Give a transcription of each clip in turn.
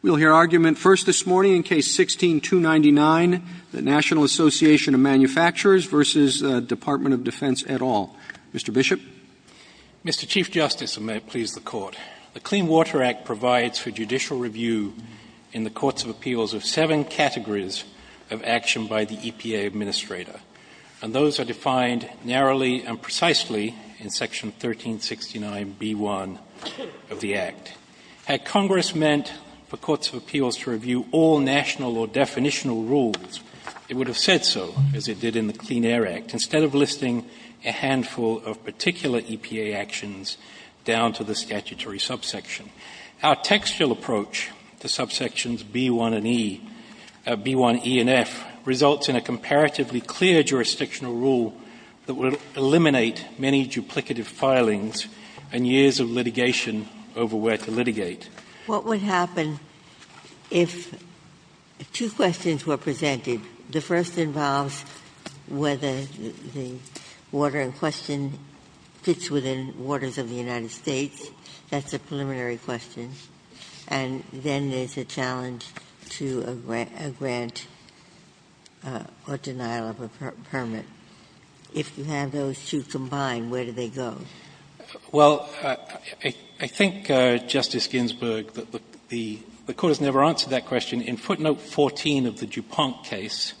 We'll hear argument first this morning in Case 16-299, the National Association of Manufacturers v. Department of Defense et al. Mr. Bishop? Mr. Chief Justice, and may it please the Court, the Clean Water Act provides for judicial review in the Courts of Appeals of seven categories of action by the EPA Administrator, and those are defined narrowly and precisely in Section 1369b1 of the Act. Had Congress meant for Courts of Appeals to review all national or definitional rules, it would have said so, as it did in the Clean Air Act, instead of listing a handful of particular EPA actions down to the statutory subsection. Our textual approach to subsections b1 and e, b1e and f, results in a comparatively clear jurisdictional rule that will eliminate many duplicative filings and years of litigation over where to litigate. Ginsburg What would happen if two questions were presented? The first involves whether the water in question fits within waters of the United States, that's a preliminary question, and then there's a challenge to a grant or denial of a permit. If you have those two combined, where do they go? Well, I think, Justice Ginsburg, the Court has never answered that question. In footnote 14 of the DuPont case,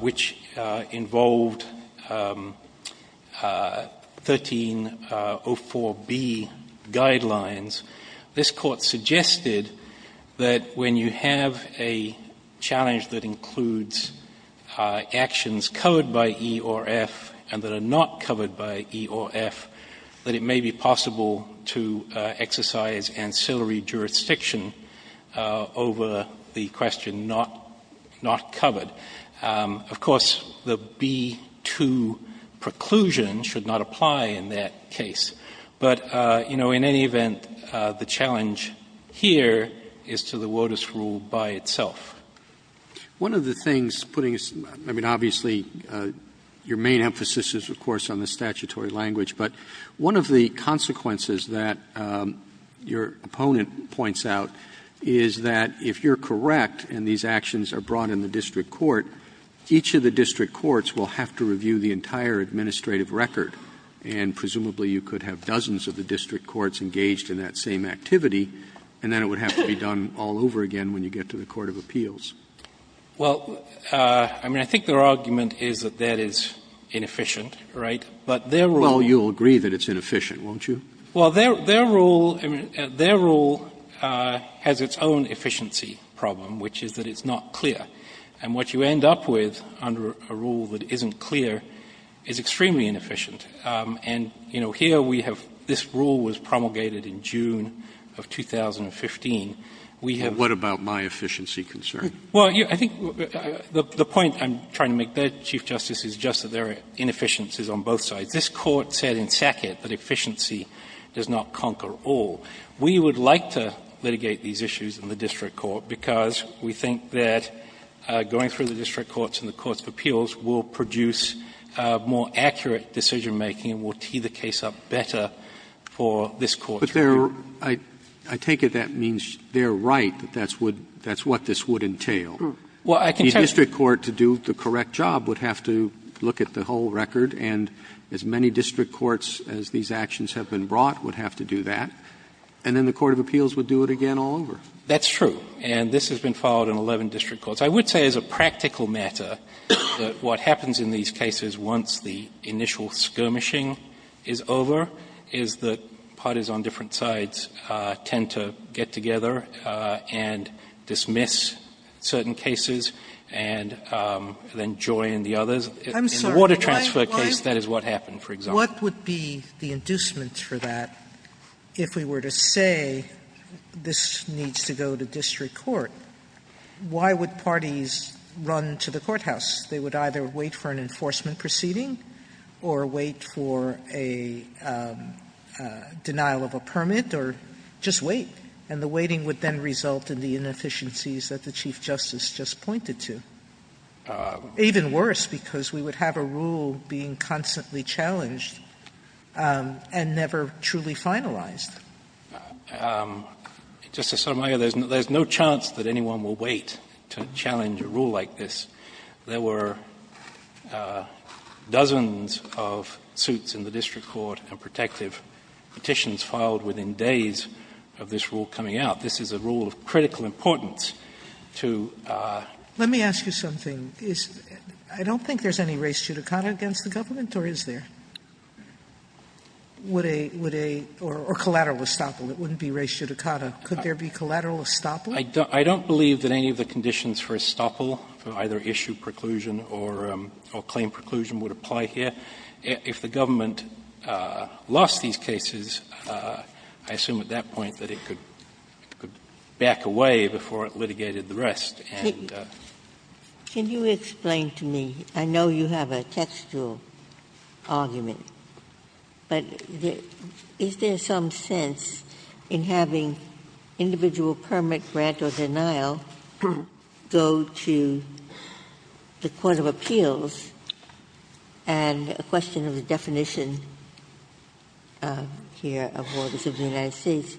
which involved 1304b guidelines, this Court suggested that when you have a challenge that includes actions covered by e or f and that are not covered by e or f, that it may be possible to exercise ancillary jurisdiction over the question not covered. Of course, the b2 preclusion should not apply in that case. But, you know, in any event, the challenge here is to the WOTUS rule by itself. Roberts One of the things putting aside — I mean, obviously, your main emphasis is, of course, on the statutory language. But one of the consequences that your opponent points out is that if you're correct and these actions are brought in the district court, each of the district courts will have to review the entire administrative record. And presumably, you could have dozens of the district courts engaged in that same activity, and then it would have to be done all over again when you get to the court of appeals. Martinez Well, I mean, I think their argument is that that is inefficient, right? But their rule— Roberts Well, I mean, their rule has its own efficiency problem, which is that it's not clear. And what you end up with under a rule that isn't clear is extremely inefficient. And, you know, here we have — this rule was promulgated in June of 2015. We have— Roberts But what about my efficiency concern? Martinez Well, I think the point I'm trying to make there, Chief Justice, is just that there are inefficiencies on both sides. This Court said in Sackett that efficiency does not conquer all. We would like to litigate these issues in the district court because we think that going through the district courts and the courts of appeals will produce more accurate decision-making and will tee the case up better for this Court to review. Roberts But I take it that means they're right, that that's what this would entail. The district court to do the correct job would have to look at the whole record. And as many district courts as these actions have been brought would have to do that. And then the court of appeals would do it again all over. Martinez That's true. And this has been followed in 11 district courts. I would say as a practical matter that what happens in these cases once the initial skirmishing is over is that parties on different sides tend to get together and dismiss certain cases and then join the others. Sotomayor I'm sorry. What would be the inducement for that if we were to say this needs to go to district court, why would parties run to the courthouse? They would either wait for an enforcement proceeding or wait for a denial of a permit or just wait. And the waiting would then result in the inefficiencies that the Chief Justice just pointed to. Even worse, because we would have a rule being constantly challenged and never truly finalized. Justice Sotomayor, there's no chance that anyone will wait to challenge a rule like this. There were dozens of suits in the district court and protective petitions filed within days of this rule coming out. This is a rule of critical importance to a I don't think there's any res judicata against the government, or is there? Or collateral estoppel. It wouldn't be res judicata. Could there be collateral estoppel? I don't believe that any of the conditions for estoppel, for either issue preclusion or claim preclusion, would apply here. If the government lost these cases, I assume at that point that it could back away before it litigated the rest. Ginsburg. Can you explain to me, I know you have a textual argument, but is there some sense in having individual permit, grant or denial go to the court of appeals and a question of the definition here of orders of the United States,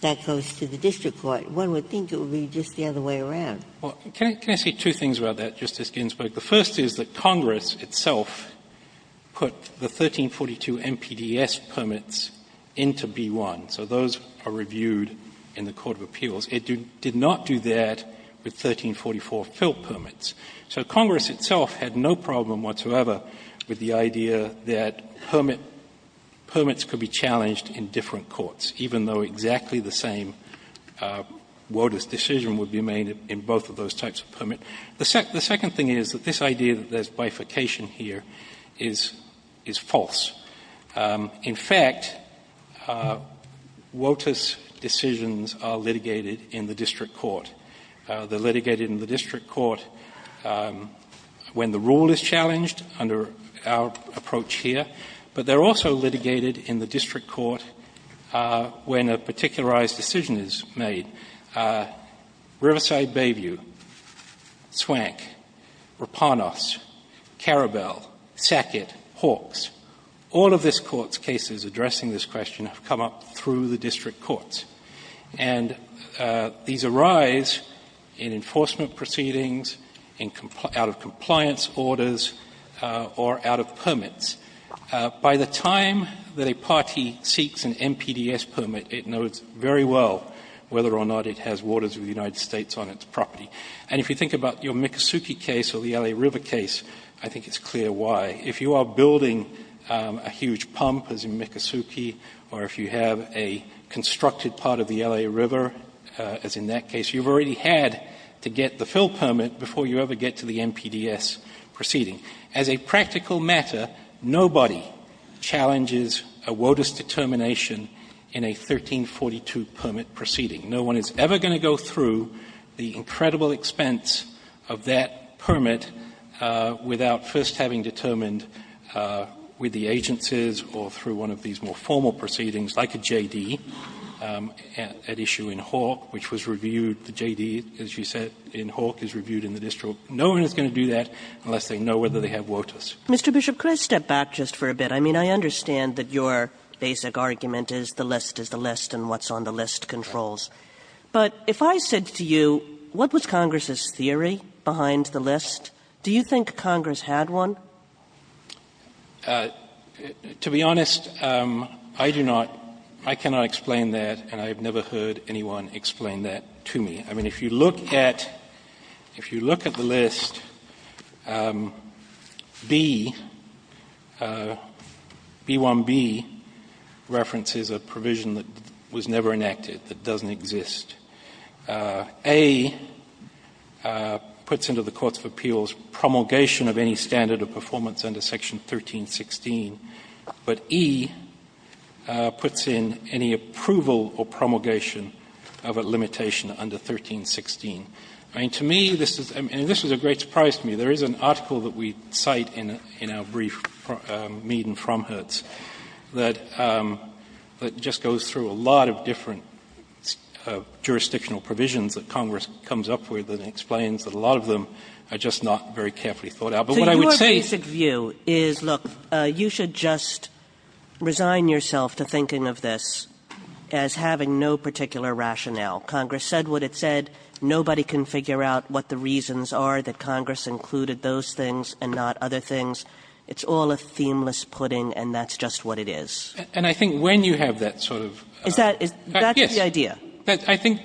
that goes to the district court? One would think it would be just the other way around. Well, can I say two things about that, Justice Ginsburg? The first is that Congress itself put the 1342 MPDS permits into B-1. So those are reviewed in the court of appeals. It did not do that with 1344 fill permits. So Congress itself had no problem whatsoever with the idea that permit permits could be challenged in different courts, even though exactly the same WOTUS decision would be made in both of those types of permits. The second thing is that this idea that there's bifurcation here is false. In fact, WOTUS decisions are litigated in the district court. They're litigated in the district court when the rule is challenged under our approach here, but they're also litigated in the district court when a particularized decision is made. Riverside Bayview, Swank, Rapanos, Carabell, Sackett, Hawks, all of this Court's cases addressing this question have come up through the district courts. And these arise in enforcement proceedings, out of compliance orders, or out of permits. By the time that a party seeks an MPDS permit, it knows very well whether or not it has waters of the United States on its property. And if you think about your Miccosukee case or the L.A. River case, I think it's clear why. If you are building a huge pump, as in Miccosukee, or if you have a constructed part of the L.A. River, as in that case, you've already had to get the fill permit before you ever get to the MPDS proceeding. As a practical matter, nobody challenges a WOTUS determination in a 1342 permit proceeding. No one is ever going to go through the incredible expense of that permit without first having determined with the agencies or through one of these more formal proceedings, like a JD, an issue in Hawk, which was reviewed. The JD, as you said, in Hawk is reviewed in the district. So no one is going to do that unless they know whether they have WOTUS. Kagan Mr. Bishop, could I step back just for a bit? I mean, I understand that your basic argument is the list is the list and what's on the list controls. But if I said to you, what was Congress's theory behind the list, do you think Congress had one? Bishop To be honest, I do not. I cannot explain that, and I have never heard anyone explain that to me. I mean, if you look at if you look at the list, B, B-1-B references a provision that was never enacted, that doesn't exist. A puts into the courts of appeals promulgation of any standard of performance under Section 1316, but E puts in any approval or promulgation of a limitation under 1316. I mean, to me, this is a great surprise to me. There is an article that we cite in our brief, Mead and Fromhertz, that just goes through a lot of different jurisdictional provisions that Congress comes up with and explains that a lot of them are just not very carefully thought out. But what I would say is Kagan So your basic view is, look, you should just resign yourself to thinking of this as having no particular rationale. Congress said what it said. Nobody can figure out what the reasons are that Congress included those things and not other things. It's all a themeless pudding, and that's just what it is. Bishop And I think when you have that sort of Kagan Is that, that's the idea. Bishop Yes. I think,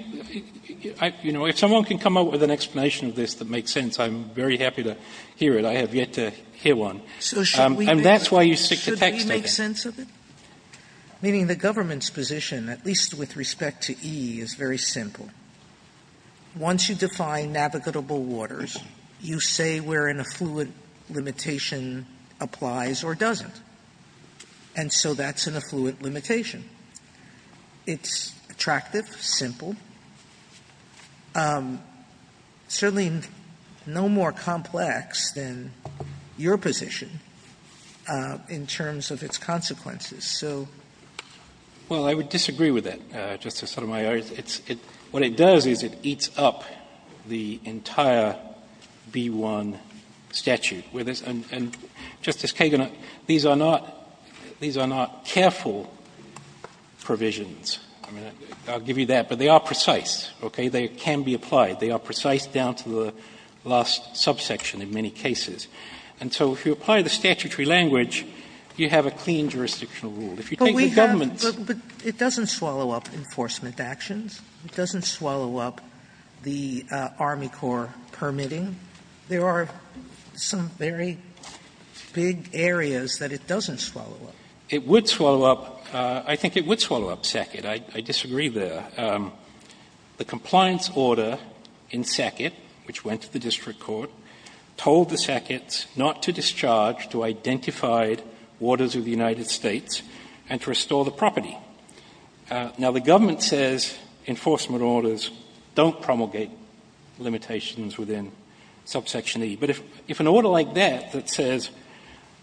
you know, if someone can come up with an explanation of this that makes sense, I'm very happy to hear it. I have yet to hear one. And that's why you stick to text, I think. Sotomayor Should we make sense of it? Meaning the government's position, at least with respect to E, is very simple. Once you define navigable waters, you say where an affluent limitation applies or doesn't. And so that's an affluent limitation. It's attractive, simple, certainly no more complex than your position in terms of its consequences. Sotomayor Well, I would disagree with that, Justice Sotomayor. It's what it does is it eats up the entire B-1 statute. And Justice Kagan, these are not careful provisions. I'll give you that. But they are precise, okay? They can be applied. They are precise down to the last subsection in many cases. And so if you apply the statutory language, you have a clean jurisdictional rule. If you take the government's Sotomayor But we have to be clear, it doesn't swallow up enforcement actions. It doesn't swallow up the Army Corps permitting. There are some very big areas that it doesn't swallow up. It would swallow up. I think it would swallow up SACIT. I disagree there. The compliance order in SACIT, which went to the district court, told the SACIT not to discharge to identified waters of the United States and to restore the property. Now, the government says enforcement orders don't promulgate limitations within subsection E. But if an order like that that says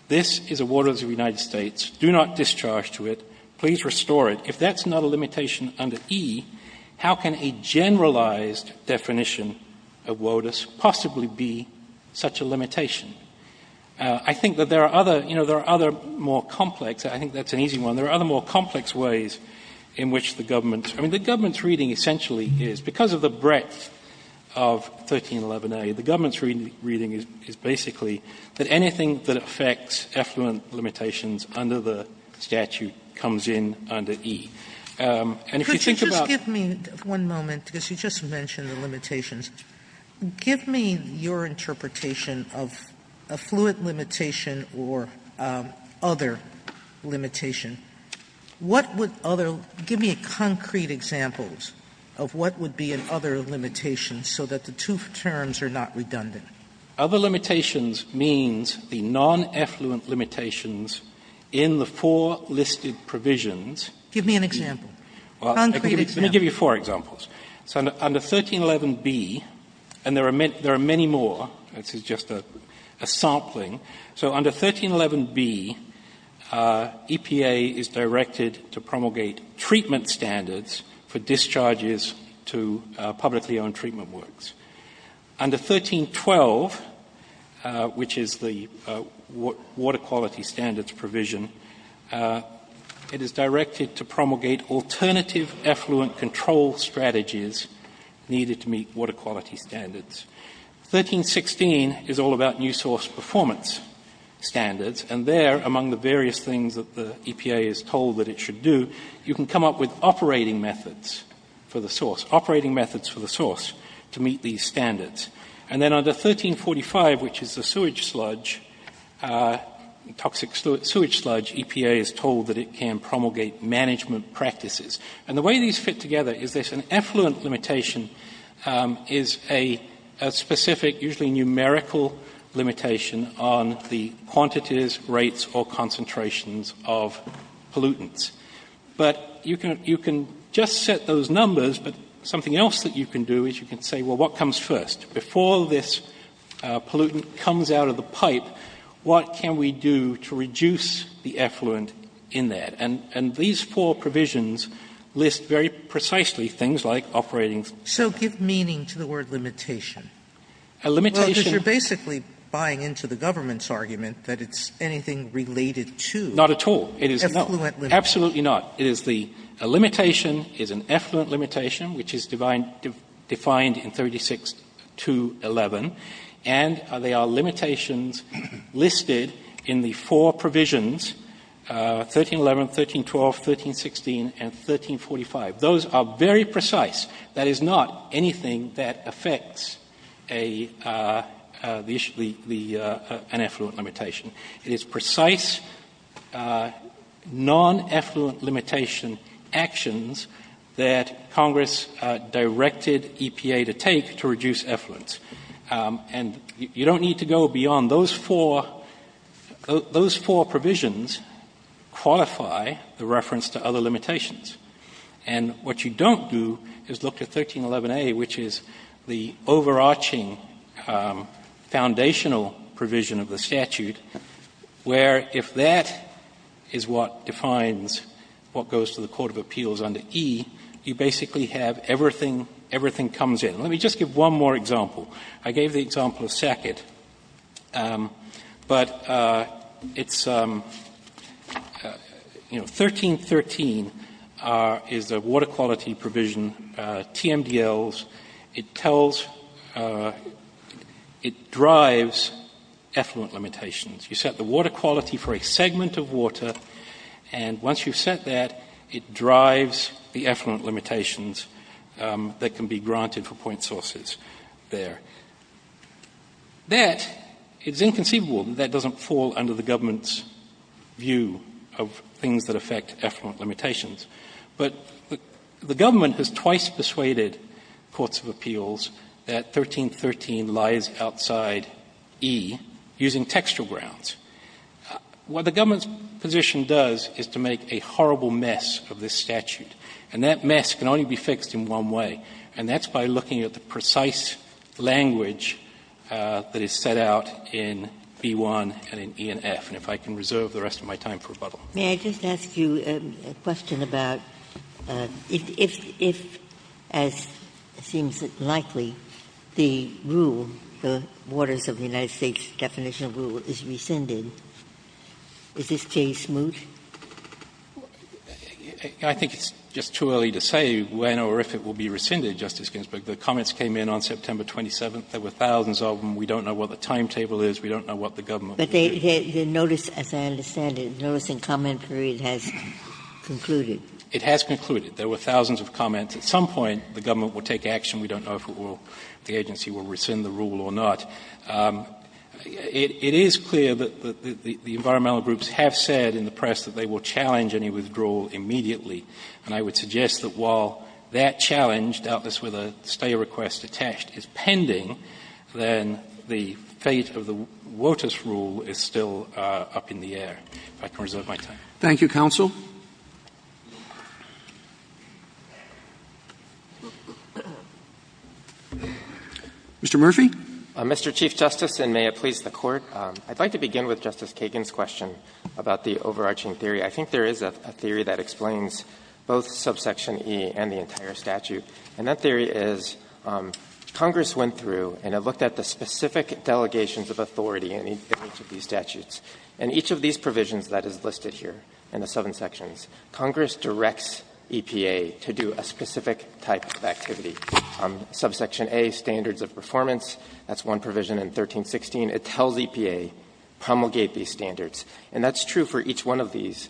this is a waters of the United States, do not discharge to it, please restore it, if that's not a limitation under E, how can a generalized definition of WOTUS possibly be such a limitation? I think that there are other, you know, there are other more complex, I think that's an easy one, there are other more complex ways in which the government, I mean, the government's reading essentially is, because of the breadth of 1311A, the government's reading is basically that anything that affects effluent limitations under the statute comes in under E. And if you think about Sotomayor Could you just give me one moment because you just mentioned the limitations. Give me your interpretation of a fluid limitation or other limitation. What would other, give me a concrete example of what would be an other limitation so that the two terms are not redundant. Other limitations means the non-effluent limitations in the four listed provisions. Give me an example, a concrete example. Let me give you four examples. So under 1311B, and there are many more, this is just a sampling. So under 1311B, EPA is directed to promulgate treatment standards for discharges to publicly owned treatment works. Under 1312, which is the water quality standards provision, it is directed to promulgate alternative effluent control strategies needed to meet water quality standards. 1316 is all about new source performance standards. And there, among the various things that the EPA is told that it should do, you can come up with operating methods for the source, operating methods for the source to meet these standards. And then under 1345, which is the sewage sludge, toxic sewage sludge, EPA is told that it can promulgate management practices. And the way these fit together is this. An effluent limitation is a specific, usually numerical, limitation on the quantities, rates, or concentrations of pollutants. But you can just set those numbers, but something else that you can do is you can say, well, what comes first? Before this pollutant comes out of the pipe, what can we do to reduce the effluent in that? And these four provisions list very precisely things like operating. Sotomayor, So give meaning to the word limitation. Well, because you're basically buying into the government's argument that it's anything related to effluent limitation. Not at all. It is not. Absolutely not. It is the limitation is an effluent limitation, which is defined in 36211. And there are limitations listed in the four provisions, 1311, 1312, 1316, and 1345. Those are very precise. That is not anything that affects an effluent limitation. It is precise, non-effluent limitation actions that Congress directed EPA to take to reduce effluents. And you don't need to go beyond those four. Those four provisions qualify the reference to other limitations. And what you don't do is look at 1311A, which is the overarching foundational provision of the statute, where if that is what defines what goes to the Court of Appeals under E, you basically have everything comes in. Let me just give one more example. I gave the example of SACIT. But it's, you know, 1313 is the water quality provision, TMDLs. It tells, it drives effluent limitations. You set the water quality for a segment of water, and once you've set that, it drives the effluent limitations that can be granted for point sources there. That is inconceivable. That doesn't fall under the government's view of things that affect effluent limitations. But the government has twice persuaded Courts of Appeals that 1313 lies outside E using textual grounds. What the government's position does is to make a horrible mess of this statute. And that mess can only be fixed in one way, and that's by looking at the precise language that is set out in B-1 and in E and F. And if I can reserve the rest of my time for rebuttal. Ginsburg-McGill. May I just ask you a question about if, as seems likely, the rule, the Waters of the United States definition of rule, is rescinded, is this case moot? I think it's just too early to say when or if it will be rescinded, Justice Ginsburg. The comments came in on September 27th. There were thousands of them. We don't know what the timetable is. We don't know what the government will do. But the notice, as I understand it, the notice and comment period has concluded. It has concluded. There were thousands of comments. At some point, the government will take action. We don't know if it will, if the agency will rescind the rule or not. It is clear that the environmental groups have said in the press that they will challenge any withdrawal immediately. And I would suggest that while that challenge, doubtless with a stay request attached, is pending, then the fate of the Waters rule is still up in the air. If I can reserve my time. Thank you, counsel. Mr. Murphy. Mr. Chief Justice, and may it please the Court. I'd like to begin with Justice Kagan's question about the overarching theory. I think there is a theory that explains both subsection E and the entire statute, and that theory is Congress went through and it looked at the specific delegations of authority in each of these statutes. And each of these provisions that is listed here in the seven sections, Congress directs EPA to do a specific type of activity. Subsection A, standards of performance, that's one provision in 1316. It tells EPA promulgate these standards. And that's true for each one of these,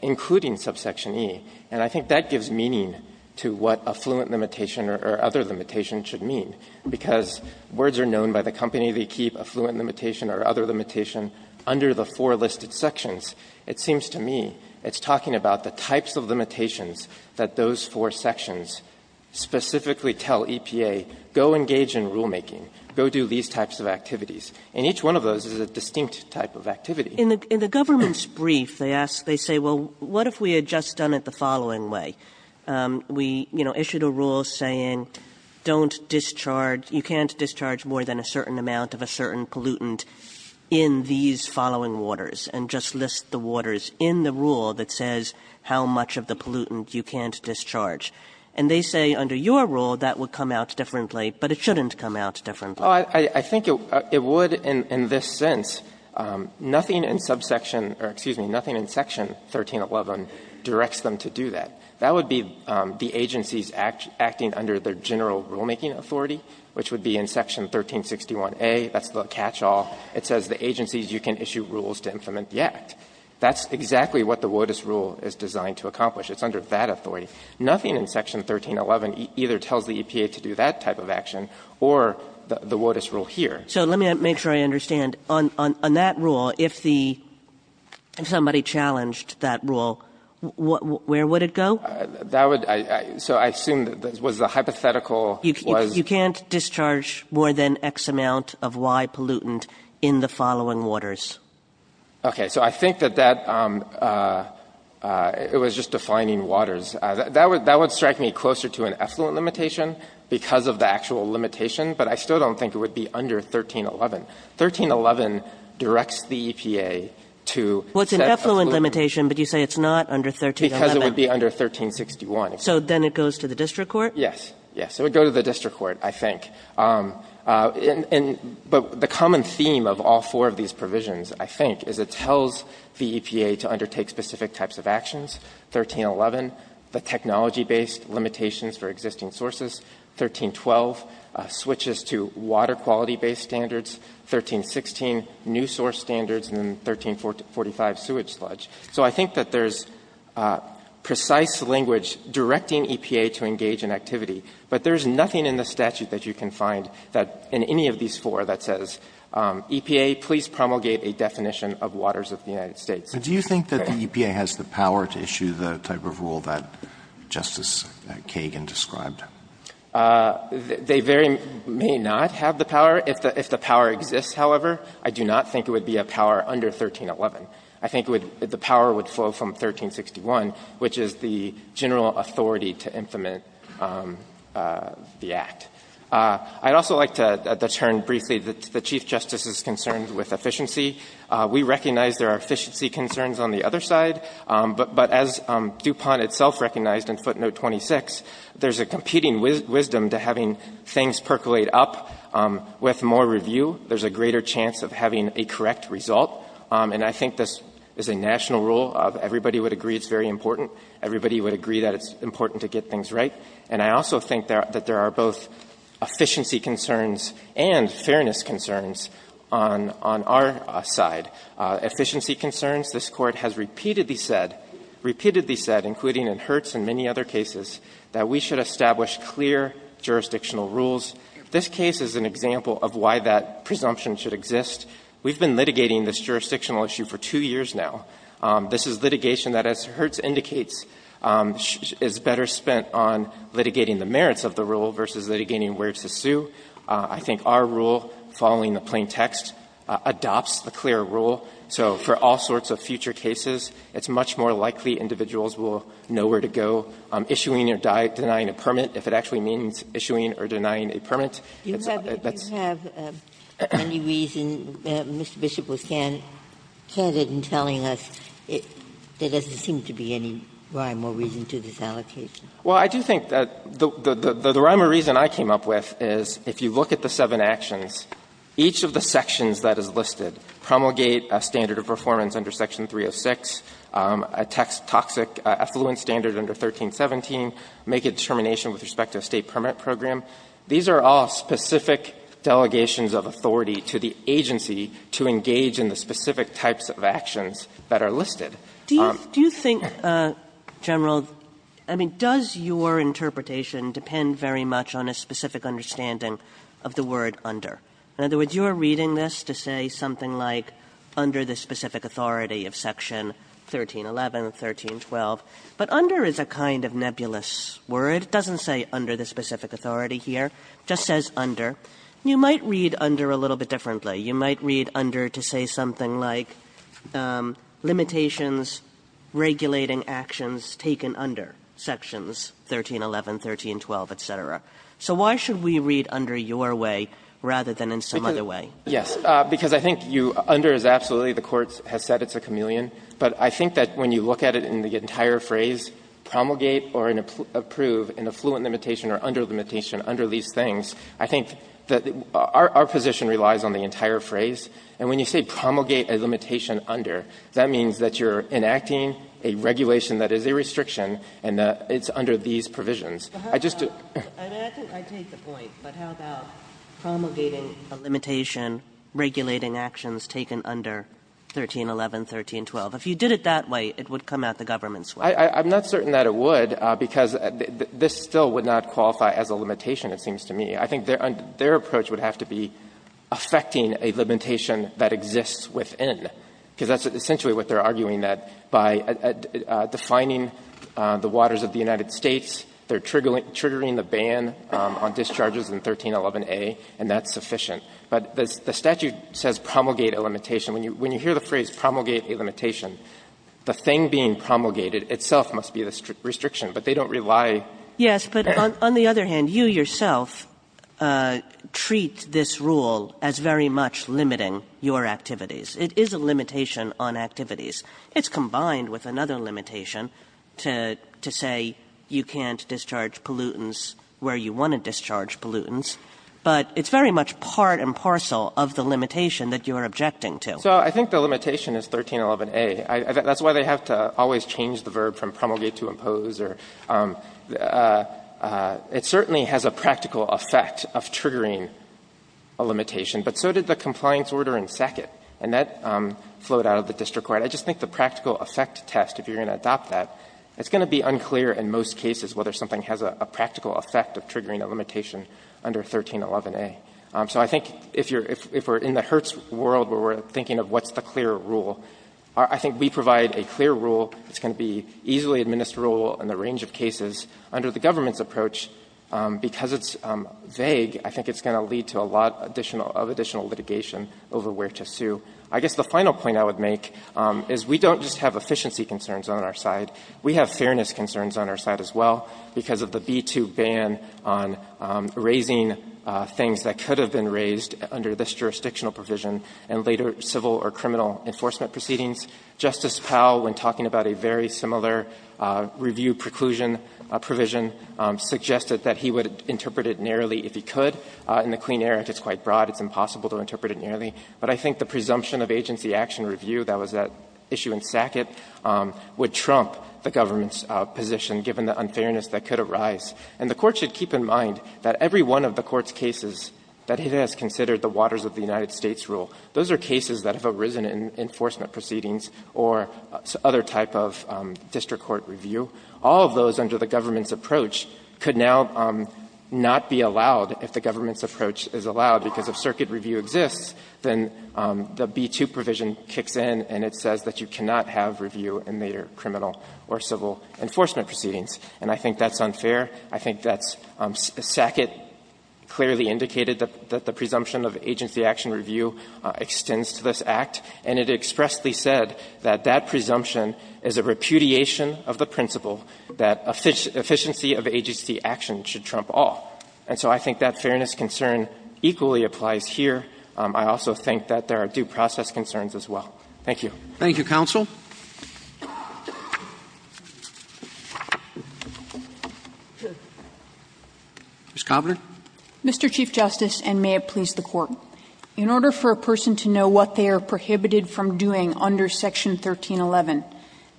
including subsection E. And I think that gives meaning to what a fluent limitation or other limitation should mean, because words are known by the company, they keep a fluent limitation or other limitation under the four listed sections. It seems to me it's talking about the types of limitations that those four sections specifically tell EPA, go engage in rulemaking, go do these types of activities. And each one of those is a distinct type of activity. Kagan in the government's brief, they ask, they say, well, what if we had just done it the following way? We, you know, issued a rule saying don't discharge, you can't discharge more than a certain amount of a certain pollutant in these following waters, and just list the waters in the rule that says how much of the pollutant you can't discharge. And they say under your rule that would come out differently, but it shouldn't come out differently. Goldstein, I think it would in this sense. Nothing in subsection or, excuse me, nothing in section 1311 directs them to do that. That would be the agencies acting under their general rulemaking authority, which would be in section 1361a. That's the catch-all. It says the agencies, you can issue rules to implement the act. That's exactly what the WOTUS rule is designed to accomplish. It's under that authority. Nothing in section 1311 either tells the EPA to do that type of action or the WOTUS rule here. Kagan. So let me make sure I understand. On that rule, if the ‑‑ if somebody challenged that rule, where would it go? That would ‑‑ so I assume that was the hypothetical ‑‑ You can't discharge more than X amount of Y pollutant in the following waters. Okay. So I think that that ‑‑ it was just defining waters. That would strike me closer to an effluent limitation because of the actual limitation, but I still don't think it would be under 1311. 1311 directs the EPA to ‑‑ Well, it's an effluent limitation, but you say it's not under 1311. Because it would be under 1361. So then it goes to the district court? Yes. Yes. It would go to the district court, I think. And ‑‑ but the common theme of all four of these provisions, I think, is it tells the EPA to undertake specific types of actions, 1311, the technology‑based limitations for existing sources, 1312, switches to water quality‑based standards, 1316, new source standards, and then 1345, sewage sludge. So I think that there's precise language directing EPA to engage in activity, but there's nothing in the statute that you can find that in any of these four that says, EPA, please promulgate a definition of waters of the United States. But do you think that the EPA has the power to issue the type of rule that Justice Kagan described? They very ‑‑ may not have the power. If the power exists, however, I do not think it would be a power under 1311. I think the power would flow from 1361, which is the general authority to implement the act. I'd also like to detourn briefly to the Chief Justice's concerns with efficiency. We recognize there are efficiency concerns on the other side, but as DuPont itself recognized in footnote 26, there's a competing wisdom to having things percolate up. With more review, there's a greater chance of having a correct result. And I think this is a national rule of everybody would agree it's very important. Everybody would agree that it's important to get things right. And I also think that there are both efficiency concerns and fairness concerns on our side. Efficiency concerns, this Court has repeatedly said, repeatedly said, including in Hertz and many other cases, that we should establish clear jurisdictional rules. This case is an example of why that presumption should exist. We've been litigating this jurisdictional issue for two years now. This is litigation that, as Hertz indicates, is better spent on litigating the merits of the rule versus litigating where to sue. I think our rule, following the plain text, adopts the clear rule. So for all sorts of future cases, it's much more likely individuals will know where to go issuing or denying a permit, if it actually means issuing or denying a permit. Ginsburg. Do you have any reason, Mr. Bishop was candid in telling us, there doesn't seem to be any rhyme or reason to this allocation? Well, I do think that the rhyme or reason I came up with is if you look at the seven actions, each of the sections that is listed promulgate a standard of performance under Section 306, a toxic effluent standard under 1317, make a determination with respect to a State permit program. These are all specific delegations of authority to the agency to engage in the specific types of actions that are listed. Do you think, General, I mean, does your interpretation depend very much on a specific understanding of the word under? In other words, you are reading this to say something like under the specific authority of Section 1311, 1312, but under is a kind of nebulous word. It doesn't say under the specific authority here. It just says under. You might read under a little bit differently. You might read under to say something like limitations regulating actions taken under Sections 1311, 1312, et cetera. So why should we read under your way rather than in some other way? Yes, because I think you under is absolutely, the Court has said it's a chameleon. But I think that when you look at it in the entire phrase, promulgate or approve an affluent limitation or under limitation under these things, I think that our position relies on the entire phrase. And when you say promulgate a limitation under, that means that you're enacting a regulation that is a restriction and that it's under these provisions. I just do — I mean, I think I take the point, but how about promulgating a limitation regulating actions taken under 1311, 1312? If you did it that way, it would come out the government's way. I'm not certain that it would, because this still would not qualify as a limitation, it seems to me. I think their approach would have to be affecting a limitation that exists within, because that's essentially what they're arguing, that by defining the waters of the United States, they're triggering the ban on discharges in 1311a, and that's sufficient. But the statute says promulgate a limitation. When you hear the phrase promulgate a limitation, the thing being promulgated, itself, must be the restriction, but they don't rely on that. Kagan Yes, but on the other hand, you yourself treat this rule as very much limiting your activities. It is a limitation on activities. It's combined with another limitation to say you can't discharge pollutants where you want to discharge pollutants, but it's very much part and parcel of the limitation that you're objecting to. So I think the limitation is 1311a. That's why they have to always change the verb from promulgate to impose. It certainly has a practical effect of triggering a limitation, but so did the compliance order in Sackett, and that flowed out of the district court. I just think the practical effect test, if you're going to adopt that, it's going to be unclear in most cases whether something has a practical effect of triggering a limitation under 1311a. So I think if you're – if we're in the Hertz world where we're thinking of what's the clear rule, I think we provide a clear rule that's going to be easily administerable in the range of cases. Under the government's approach, because it's vague, I think it's going to lead to a lot additional – of additional litigation over where to sue. I guess the final point I would make is we don't just have efficiency concerns on our side. We have fairness concerns on our side as well because of the B-2 ban on raising things that could have been raised under this jurisdictional provision, and later in civil or criminal enforcement proceedings. Justice Powell, when talking about a very similar review preclusion provision, suggested that he would interpret it narrowly if he could. In the Clean Air Act, it's quite broad. It's impossible to interpret it narrowly. But I think the presumption of agency action review that was at issue in Sackett would trump the government's position, given the unfairness that could arise. And the Court should keep in mind that every one of the Court's cases that it has considered under the Waters of the United States rule, those are cases that have arisen in enforcement proceedings or other type of district court review. All of those under the government's approach could now not be allowed, if the government's approach is allowed, because if circuit review exists, then the B-2 provision kicks in and it says that you cannot have review in later criminal or civil enforcement proceedings, and I think that's unfair. I think that Sackett clearly indicated that the presumption of agency action review extends to this Act, and it expressly said that that presumption is a repudiation of the principle that efficiency of agency action should trump all. And so I think that fairness concern equally applies here. I also think that there are due process concerns as well. Thank you. Roberts Thank you, counsel. Ms. Kovner. Kovner Mr. Chief Justice, and may it please the Court. In order for a person to know what they are prohibited from doing under section 1311,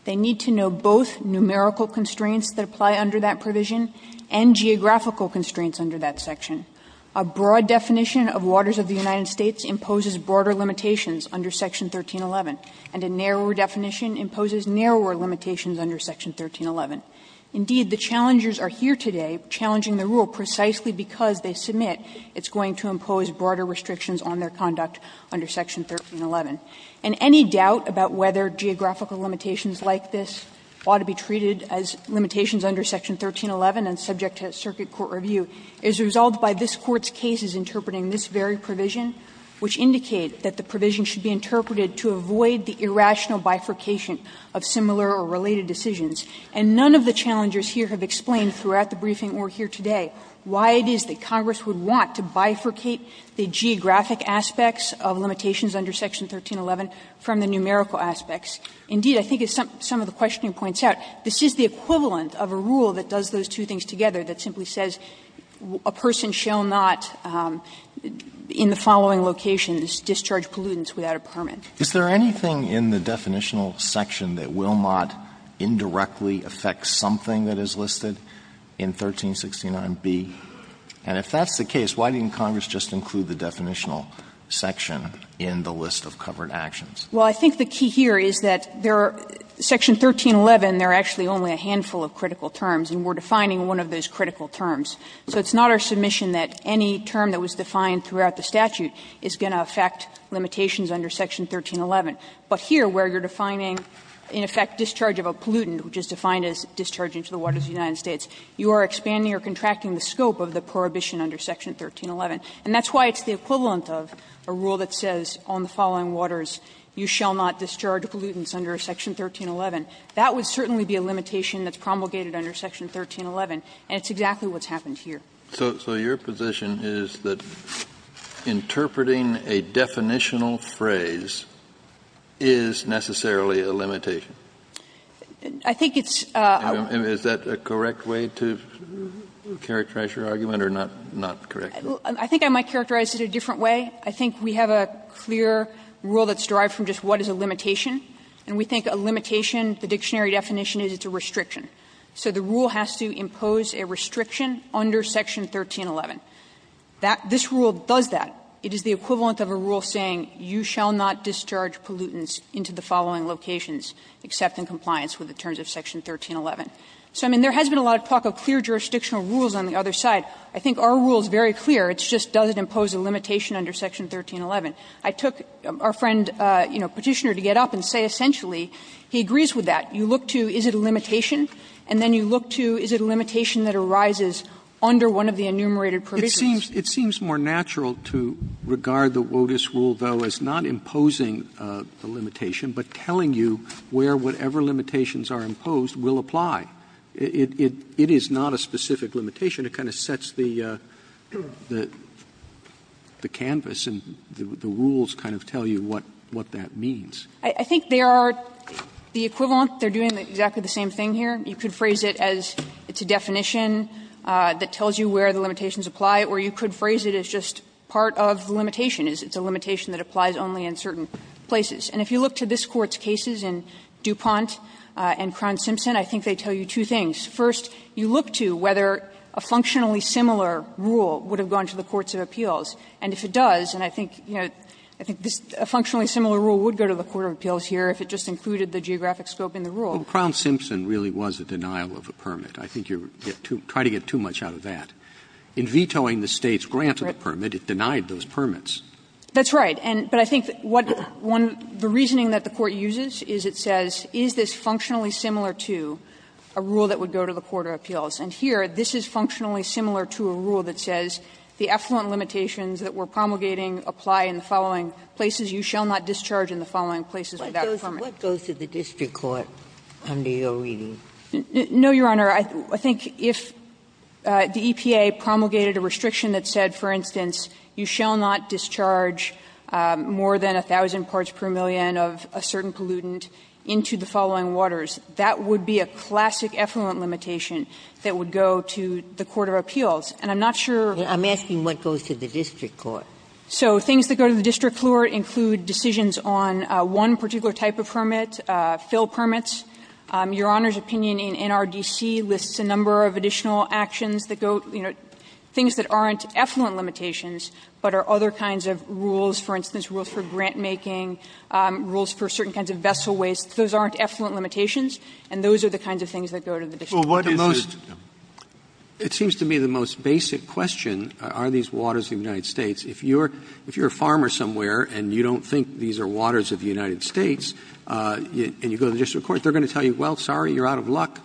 they need to know both numerical constraints that apply under that provision and geographical constraints under that section. A broad definition of Waters of the United States imposes broader limitations under section 1311, and a narrower definition imposes narrower limitations under section 1311. Indeed, the challengers are here today challenging the rule precisely because they submit it's going to impose broader restrictions on their conduct under section 1311. And any doubt about whether geographical limitations like this ought to be treated as limitations under section 1311 and subject to circuit court review is resolved by this Court's cases interpreting this very provision, which indicate that the provision should be interpreted to avoid the irrational bifurcation of similar or related decisions. And none of the challengers here have explained throughout the briefing or here today why it is that Congress would want to bifurcate the geographic aspects of limitations under section 1311 from the numerical aspects. Indeed, I think as some of the questioning points out, this is the equivalent of a rule that does those two things together that simply says a person shall not in the following location discharge pollutants without a permit. Alitoso, is there anything in the definitional section that will not indirectly affect something that is listed in 1369b? And if that's the case, why didn't Congress just include the definitional section in the list of covered actions? Well, I think the key here is that there are 1311, there are actually only a handful of critical terms, and we're defining one of those critical terms. So it's not our submission that any term that was defined throughout the statute is going to affect limitations under section 1311. But here, where you're defining, in effect, discharge of a pollutant, which is defined as discharging to the waters of the United States, you are expanding or contracting the scope of the prohibition under section 1311. And that's why it's the equivalent of a rule that says on the following waters, you shall not discharge pollutants under section 1311. That would certainly be a limitation that's promulgated under section 1311, and it's exactly what's happened here. Kennedy, so your position is that interpreting a definitional phrase is necessarily a limitation? I think it's a rule. Is that a correct way to characterize your argument, or not correct? I think I might characterize it a different way. I think we have a clear rule that's derived from just what is a limitation, and we think a limitation, the dictionary definition is it's a restriction. So the rule has to impose a restriction under section 1311. That this rule does that. It is the equivalent of a rule saying you shall not discharge pollutants into the following locations except in compliance with the terms of section 1311. So, I mean, there has been a lot of talk of clear jurisdictional rules on the other side. I think our rule is very clear. It's just does it impose a limitation under section 1311. I took our friend, you know, Petitioner, to get up and say essentially he agrees with that. You look to is it a limitation, and then you look to is it a limitation that arises under one of the enumerated provisions. Roberts' It seems more natural to regard the WOTUS rule, though, as not imposing the limitation, but telling you where whatever limitations are imposed will apply. It is not a specific limitation. It kind of sets the canvas and the rules kind of tell you what that means. I think there are the equivalent. They are doing exactly the same thing here. You could phrase it as it's a definition that tells you where the limitations apply, or you could phrase it as just part of the limitation. It's a limitation that applies only in certain places. And if you look to this Court's cases in DuPont and Crown Simpson, I think they tell you two things. First, you look to whether a functionally similar rule would have gone to the courts of appeals. And if it does, and I think, you know, I think a functionally similar rule would go to the court of appeals here if it just included the geographic scope in the rule. Roberts' Crown Simpson really was a denial of a permit. I think you're trying to get too much out of that. In vetoing the State's grant of the permit, it denied those permits. That's right. But I think what one of the reasoning that the Court uses is it says, is this functionally similar to a rule that would go to the court of appeals? And here, this is functionally similar to a rule that says, the effluent limitations that we're promulgating apply in the following places. You shall not discharge in the following places without a permit. Ginsburg's What goes to the district court under your reading? No, Your Honor. I think if the EPA promulgated a restriction that said, for instance, you shall not discharge more than 1,000 parts per million of a certain pollutant into the following that would go to the court of appeals. And I'm not sure. I'm asking what goes to the district court. So things that go to the district court include decisions on one particular type of permit, fill permits. Your Honor's opinion in NRDC lists a number of additional actions that go, you know, things that aren't effluent limitations, but are other kinds of rules, for instance, rules for grantmaking, rules for certain kinds of vessel waste. Those aren't effluent limitations, and those are the kinds of things that go to the district court. The most It seems to me the most basic question, are these waters of the United States? If you're a farmer somewhere and you don't think these are waters of the United States, and you go to the district court, they're going to tell you, well, sorry, you're out of luck,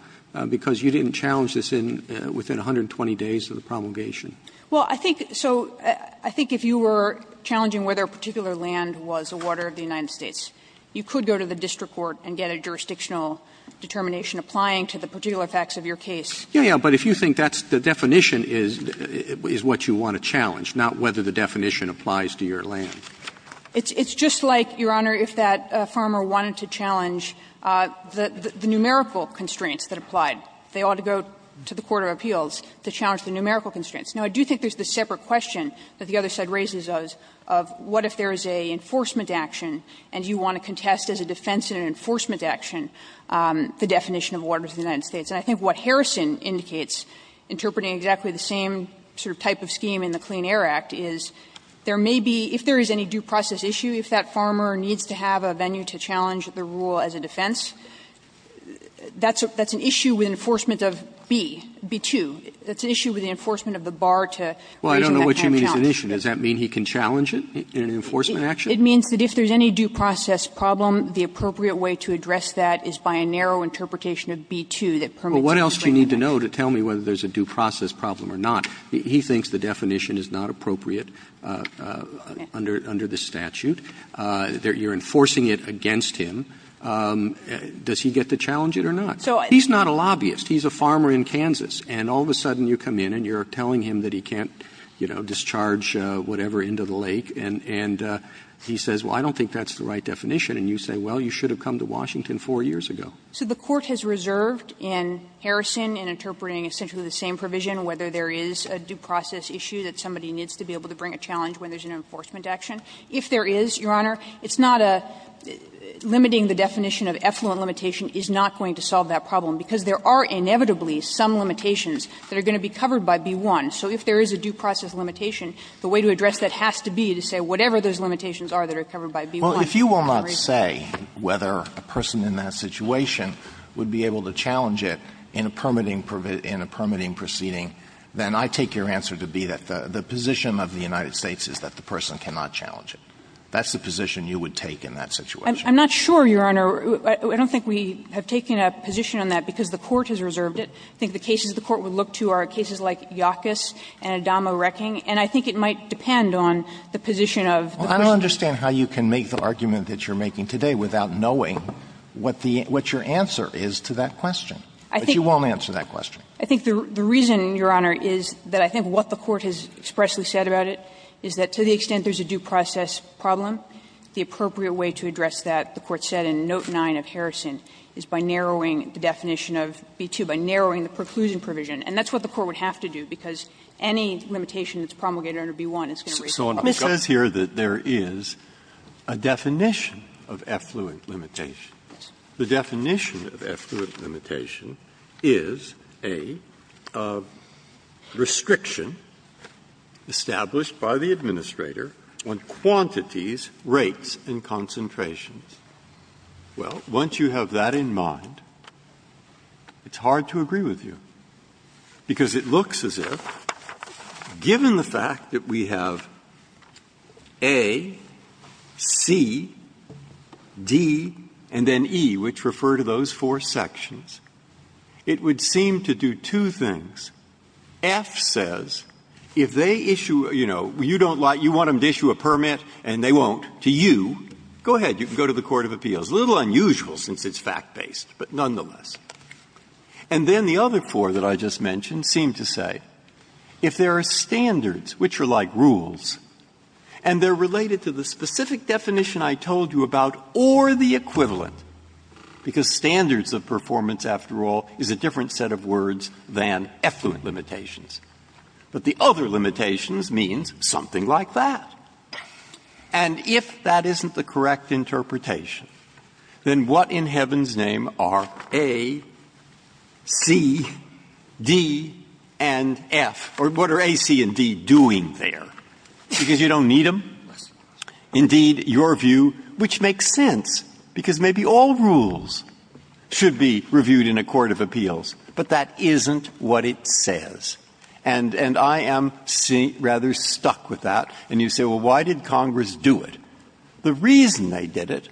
because you didn't challenge this within 120 days of the promulgation. Well, I think so — I think if you were challenging whether a particular land was a water of the United States, you could go to the district court and get a jurisdictional determination applying to the particular facts of your case. Roberts' Yeah, yeah, but if you think that's the definition is what you want to challenge, not whether the definition applies to your land. It's just like, Your Honor, if that farmer wanted to challenge the numerical constraints that applied, they ought to go to the court of appeals to challenge the numerical constraints. Now, I do think there's this separate question that the other side raises of, what if there is an enforcement action and you want to contest as a defense and an enforcement action the definition of waters of the United States? And I think what Harrison indicates, interpreting exactly the same sort of type of scheme in the Clean Air Act, is there may be, if there is any due process issue, if that farmer needs to have a venue to challenge the rule as a defense, that's an issue with enforcement of B, B-2. That's an issue with the enforcement of the bar to raising that kind of challenge. Roberts' Does that mean he can challenge it in an enforcement action? It means that if there's any due process problem, the appropriate way to address that is by a narrow interpretation of B-2 that permits the Clean Air Act. Roberts' What else do you need to know to tell me whether there's a due process problem or not? He thinks the definition is not appropriate under the statute. You're enforcing it against him. Does he get to challenge it or not? He's not a lobbyist. He's a farmer in Kansas. And all of a sudden you come in and you're telling him that he can't, you know, discharge whatever into the lake, and he says, well, I don't think that's the right definition. And you say, well, you should have come to Washington four years ago. So the Court has reserved in Harrison in interpreting essentially the same provision whether there is a due process issue that somebody needs to be able to bring a challenge when there's an enforcement action. If there is, Your Honor, it's not a limiting the definition of effluent limitation is not going to solve that problem, because there are inevitably some limitations that are going to be covered by B-1. So if there is a due process limitation, the way to address that has to be to say whatever those limitations are that are covered by B-1. Alito Well, if you will not say whether a person in that situation would be able to challenge it in a permitting proceeding, then I take your answer to be that the position of the United States is that the person cannot challenge it. That's the position you would take in that situation. I'm not sure, Your Honor. I don't think we have taken a position on that, because the Court has reserved it. I think the cases the Court would look to are cases like Yacus and Adama Wrecking, and I think it might depend on the position of the person. Alito Well, I don't understand how you can make the argument that you're making today without knowing what the – what your answer is to that question. But you won't answer that question. I think the reason, Your Honor, is that I think what the Court has expressly said about it is that to the extent there's a due process problem, the appropriate way to address that, the Court said in note 9 of Harrison, is by narrowing the definition of B-2, by narrowing the preclusion provision. And that's what the Court would have to do, because any limitation that's promulgated under B-1 is going to raise a problem. Breyer So it says here that there is a definition of effluent limitation. The definition of effluent limitation is a restriction established by the Administrator on quantities, rates, and concentrations. Well, once you have that in mind, it's hard to agree with you, because it looks as if, given the fact that we have A, C, D, and then E, which refer to those four sections, it would seem to do two things. F says, if they issue a, you know, you don't like, you want them to issue a permit and they won't, to you, go ahead, you can go to the court of appeals. A little unusual, since it's fact-based, but nonetheless. And then the other four that I just mentioned seem to say, if there are standards, which are like rules, and they're related to the specific definition I told you about or the equivalent, because standards of performance, after all, is a different set of words than effluent limitations. But the other limitations means something like that. And if that isn't the correct interpretation, then what in heaven's name are A, C, D, and F, or what are A, C, and D doing there? Because you don't need them. Indeed, your view, which makes sense, because maybe all rules should be reviewed in a court of appeals, but that isn't what it says. And I am rather stuck with that. And you say, well, why did Congress do it? The reason they did it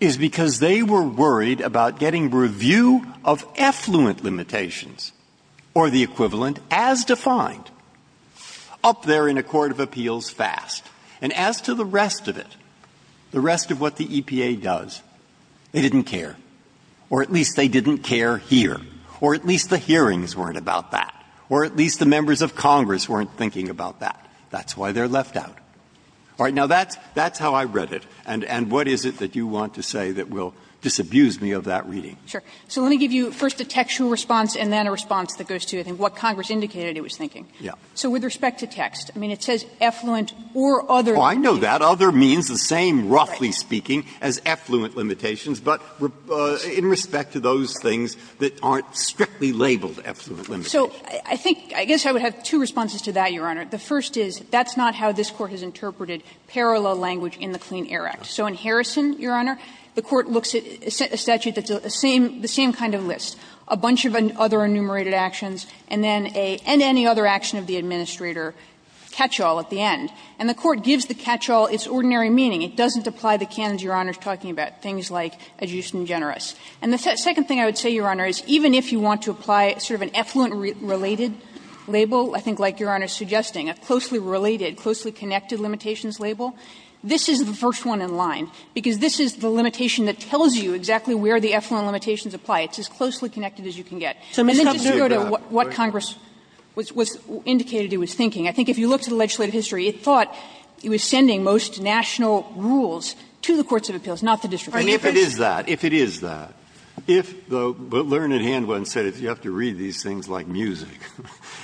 is because they were worried about getting review of effluent limitations or the equivalent as defined up there in a court of appeals fast. And as to the rest of it, the rest of what the EPA does, they didn't care, or at least they didn't care here, or at least the hearings weren't about that, or at least the members of Congress weren't thinking about that. That's why they're left out. All right. Now, that's how I read it. And what is it that you want to say that will disabuse me of that reading? So let me give you first a textual response and then a response that goes to, I think, what Congress indicated it was thinking. So with respect to text, I mean, it says effluent or other. Oh, I know that. Other means the same, roughly speaking, as effluent limitations. But in respect to those things that aren't strictly labeled effluent limitations. So I think – I guess I would have two responses to that, Your Honor. The first is that's not how this Court has interpreted parallel language in the Clean Air Act. So in Harrison, Your Honor, the Court looks at a statute that's the same kind of list, a bunch of other enumerated actions, and then a – and any other action of the administrator catch-all at the end. And the Court gives the catch-all its ordinary meaning. It doesn't apply the canons Your Honor is talking about, things like adjusting generous. And the second thing I would say, Your Honor, is even if you want to apply sort of an effluent-related label, I think like Your Honor is suggesting, a closely related, closely connected limitations label, this is the first one in line, because this is the limitation that tells you exactly where the effluent limitations apply. It's as closely connected as you can get. And then just to go to what Congress was indicating it was thinking, I think if you look to the legislative history, it thought it was sending most national rules to the courts of appeals, not the district. Breyer, if it is that, if it is that, if the learned hand went and said you have to read these things like music,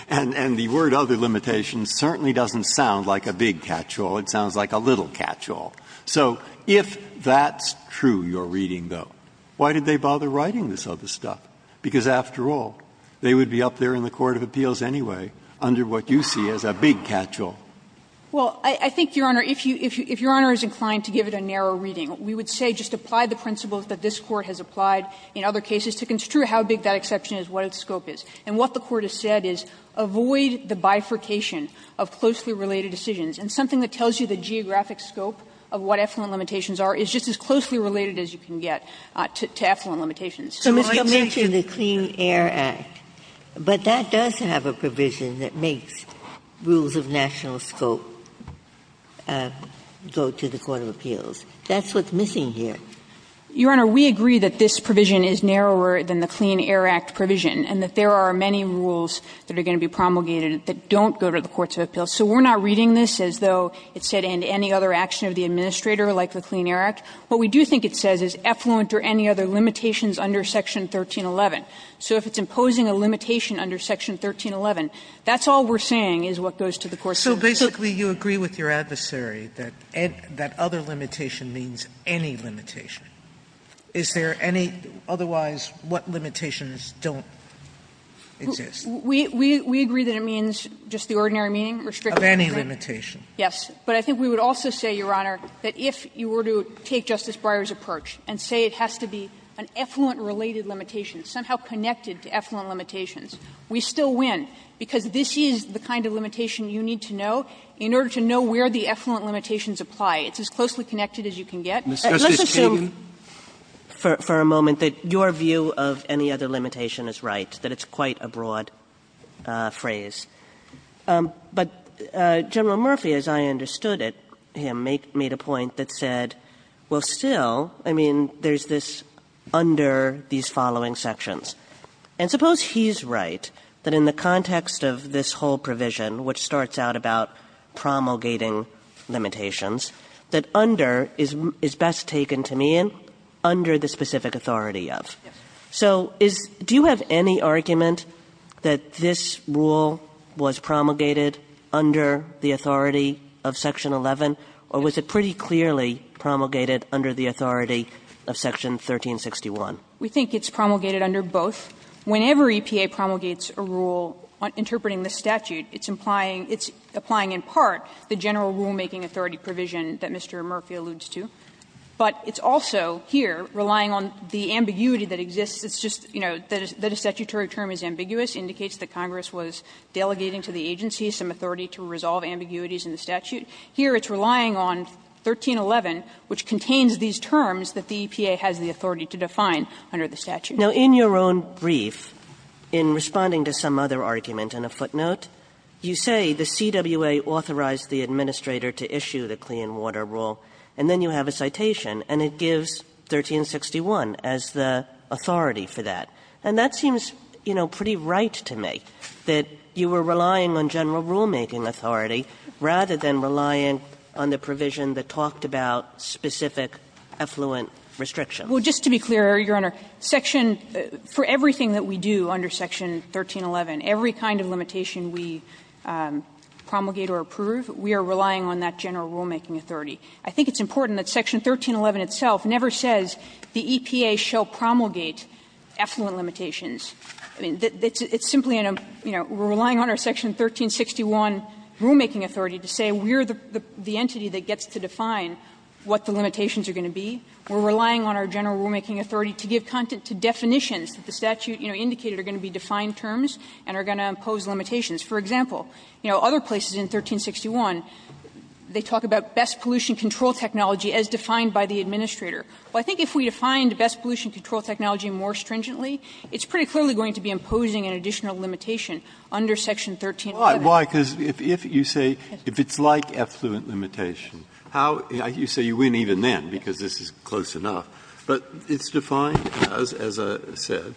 and the word other limitations certainly doesn't sound like a big catch-all. It sounds like a little catch-all. So if that's true, your reading, though, why did they bother writing this other stuff? Because after all, they would be up there in the court of appeals anyway under what you see as a big catch-all. Well, I think, Your Honor, if you, if Your Honor is inclined to give it a narrow reading, we would say just apply the principles that this Court has applied in other cases to construe how big that exception is, what its scope is. And what the Court has said is avoid the bifurcation of closely related decisions. And something that tells you the geographic scope of what effluent limitations are is just as closely related as you can get to effluent limitations. Ginsburg. So I mentioned the Clean Air Act, but that does have a provision that makes rules of national scope go to the court of appeals. That's what's missing here. Your Honor, we agree that this provision is narrower than the Clean Air Act provision, and that there are many rules that are going to be promulgated that don't go to the courts of appeals. So we're not reading this as though it said and any other action of the administrator like the Clean Air Act. What we do think it says is effluent or any other limitations under section 1311. So if it's imposing a limitation under section 1311, that's all we're saying is what goes to the courts of appeals. Sotomayor So basically you agree with your adversary that other limitation means any limitation. Is there any otherwise what limitations don't exist? We agree that it means just the ordinary meaning, restricted. Of any limitation. Yes. But I think we would also say, Your Honor, that if you were to take Justice Breyer's approach and say it has to be an effluent-related limitation, somehow connected to effluent limitations, we still win, because this is the kind of limitation you need to know in order to know where the effluent limitations apply. It's as closely connected as you can get. Let's assume for a moment that your view of any other limitation is right, that it's quite a broad phrase. But General Murphy, as I understood it, made a point that said, well, still, I mean, there's this under these following sections. And suppose he's right, that in the context of this whole provision, which starts out about promulgating limitations, that under is best taken to mean under the specific authority of. So is do you have any argument that this rule was promulgated under the authority of section 11, or was it pretty clearly promulgated under the authority of section 1361? We think it's promulgated under both. Whenever EPA promulgates a rule interpreting the statute, it's implying, it's applying in part the general rulemaking authority provision that Mr. Murphy alludes to. But it's also here relying on the ambiguity that exists. It's just, you know, that a statutory term is ambiguous, indicates that Congress was delegating to the agency some authority to resolve ambiguities in the statute. Here it's relying on 1311, which contains these terms that the EPA has the authority to define under the statute. Kagan in your own brief, in responding to some other argument in a footnote, you say the CWA authorized the administrator to issue the clean water rule, and then you have a citation, and it gives 1361 as the authority for that. And that seems, you know, pretty right to me, that you were relying on general rulemaking authority rather than relying on the provision that talked about specific affluent restriction. Well, just to be clear, Your Honor, section for everything that we do under section 1311, every kind of limitation we promulgate or approve, we are relying on that general rulemaking authority. I think it's important that section 1311 itself never says the EPA shall promulgate affluent limitations. I mean, it's simply in a, you know, we're relying on our section 1361 rulemaking authority to say we're the entity that gets to define what the limitations are going to be. We're relying on our general rulemaking authority to give content to definitions that the statute, you know, indicated are going to be defined terms and are going to impose limitations. For example, you know, other places in 1361, they talk about best pollution control technology as defined by the administrator. Well, I think if we defined best pollution control technology more stringently, it's pretty clearly going to be imposing an additional limitation under section 1311. Breyer, because if you say, if it's like affluent limitation, how you say you win even then, because this is close enough, but it's defined as, as I said,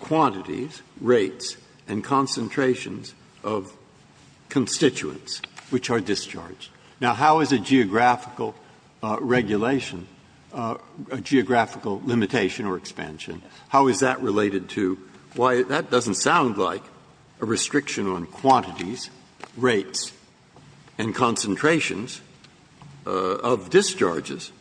quantities, rates, and concentrations of constituents which are discharged. Now, how is a geographical regulation, a geographical limitation or expansion, how is that related to why that doesn't sound like a restriction on quantities, rates, and concentrations of discharges?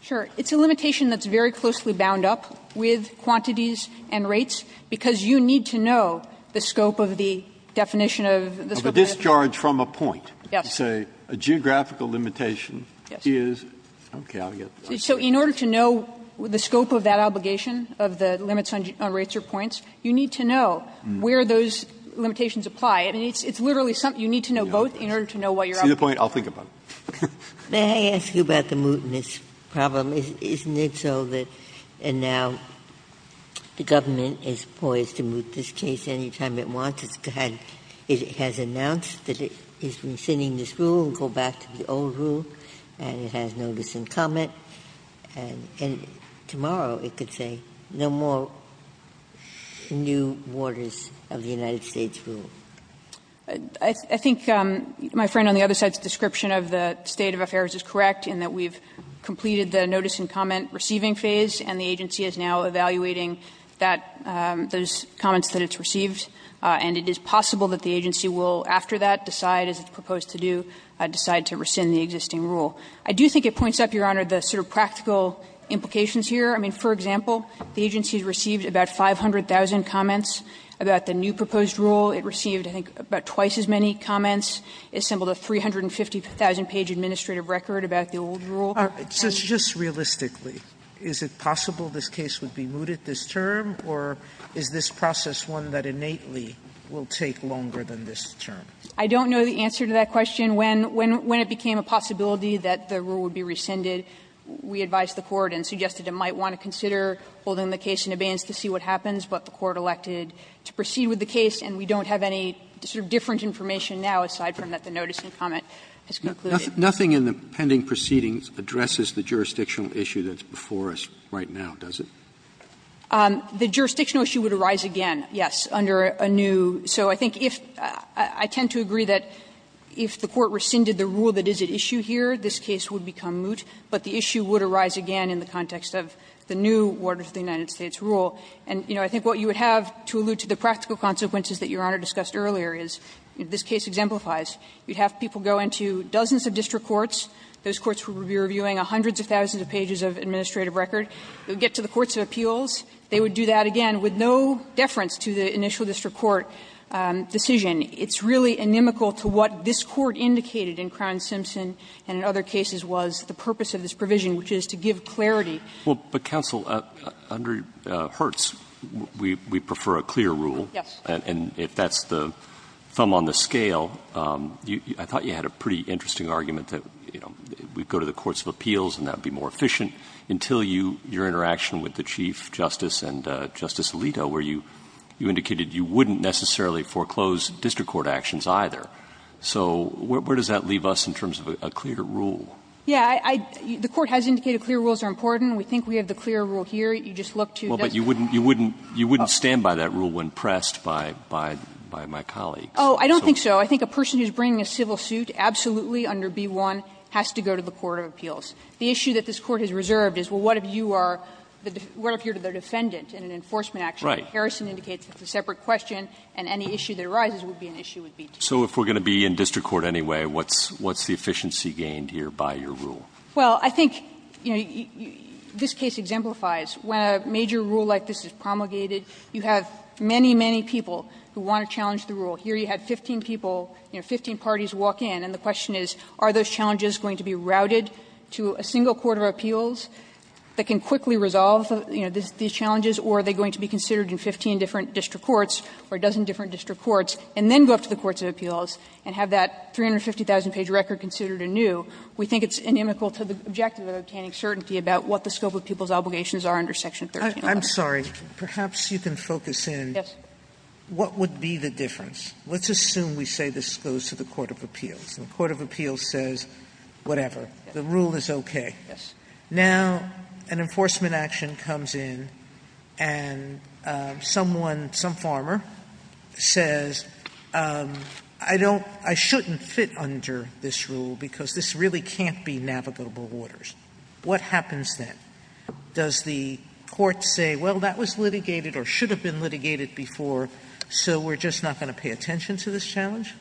Sure. It's a limitation that's very closely bound up with quantities and rates, because you need to know the scope of the definition of the scope of the definition. But discharge from a point, say, a geographical limitation is, okay, I'll get that. So in order to know the scope of that obligation, of the limits on rates or points, you need to know where those limitations apply. I mean, it's literally something you need to know both in order to know what you're asking. See the point? I'll think about it. Ginsburg. May I ask you about the mootness problem? Isn't it so that now the government is poised to moot this case any time it wants it? It has announced that it is rescinding this rule, go back to the old rule, and it has no dissent comment, and tomorrow it could say no more new orders of the United States rule. I think my friend on the other side's description of the state of affairs is correct in that we've completed the notice and comment receiving phase, and the agency is now evaluating that, those comments that it's received. And it is possible that the agency will, after that, decide, as it's proposed to do, decide to rescind the existing rule. I do think it points up, Your Honor, the sort of practical implications here. I mean, for example, the agency has received about 500,000 comments about the new proposed rule. It received, I think, about twice as many comments. It assembled a 350,000-page administrative record about the old rule. Sotomayor, just realistically, is it possible this case would be mooted this term, or is this process one that innately will take longer than this term? I don't know the answer to that question. When it became a possibility that the rule would be rescinded, we advised the Court and suggested it might want to consider holding the case in abeyance to see what have any sort of different information now, aside from that the notice and comment Roberts' Nothing in the pending proceedings addresses the jurisdictional issue that's before us right now, does it? The jurisdictional issue would arise again, yes, under a new so I think if, I tend to agree that if the Court rescinded the rule that is at issue here, this case would become moot, but the issue would arise again in the context of the new order to the United States rule. And, you know, I think what you would have to allude to the practical consequences that Your Honor discussed earlier is, if this case exemplifies, you would have people go into dozens of district courts, those courts would be reviewing hundreds of thousands of pages of administrative record, they would get to the courts of appeals, they would do that again with no deference to the initial district court decision. It's really inimical to what this Court indicated in Crown Simpson and in other cases was the purpose of this provision, which is to give clarity. Well, but counsel, under Hertz, we prefer a clear rule. Yes. And if that's the thumb on the scale, I thought you had a pretty interesting argument that, you know, we'd go to the courts of appeals and that would be more efficient, until you, your interaction with the Chief Justice and Justice Alito, where you indicated you wouldn't necessarily foreclose district court actions either. So where does that leave us in terms of a clear rule? Yeah. I the Court has indicated clear rules are important. We think we have the clear rule here. You just look to the other. Well, but you wouldn't stand by that rule when pressed by my colleagues. Oh, I don't think so. I think a person who's bringing a civil suit, absolutely under B-1, has to go to the court of appeals. The issue that this Court has reserved is, well, what if you are, what if you're the defendant in an enforcement action? Right. Harrison indicates it's a separate question, and any issue that arises would be an issue with B-2. So if we're going to be in district court anyway, what's the efficiency gained here by your rule? Well, I think, you know, this case exemplifies when a major rule like this is promulgated, you have many, many people who want to challenge the rule. Here you have 15 people, you know, 15 parties walk in, and the question is, are those challenges going to be routed to a single court of appeals that can quickly resolve these challenges, or are they going to be considered in 15 different district courts or a dozen different district courts, and then go up to the courts of appeals and have that 350,000-page record considered anew, we think it's inimical to the objective of obtaining certainty about what the scope of people's obligations are under Section 13-1. Sotomayor, I'm sorry, perhaps you can focus in what would be the difference. Let's assume we say this goes to the court of appeals, and the court of appeals says whatever, the rule is okay. Yes. Now, an enforcement action comes in and someone, some farmer, says, I don't, I shouldn't fit under this rule because this really can't be navigable waters. What happens then? Does the court say, well, that was litigated or should have been litigated before, so we're just not going to pay attention to this challenge?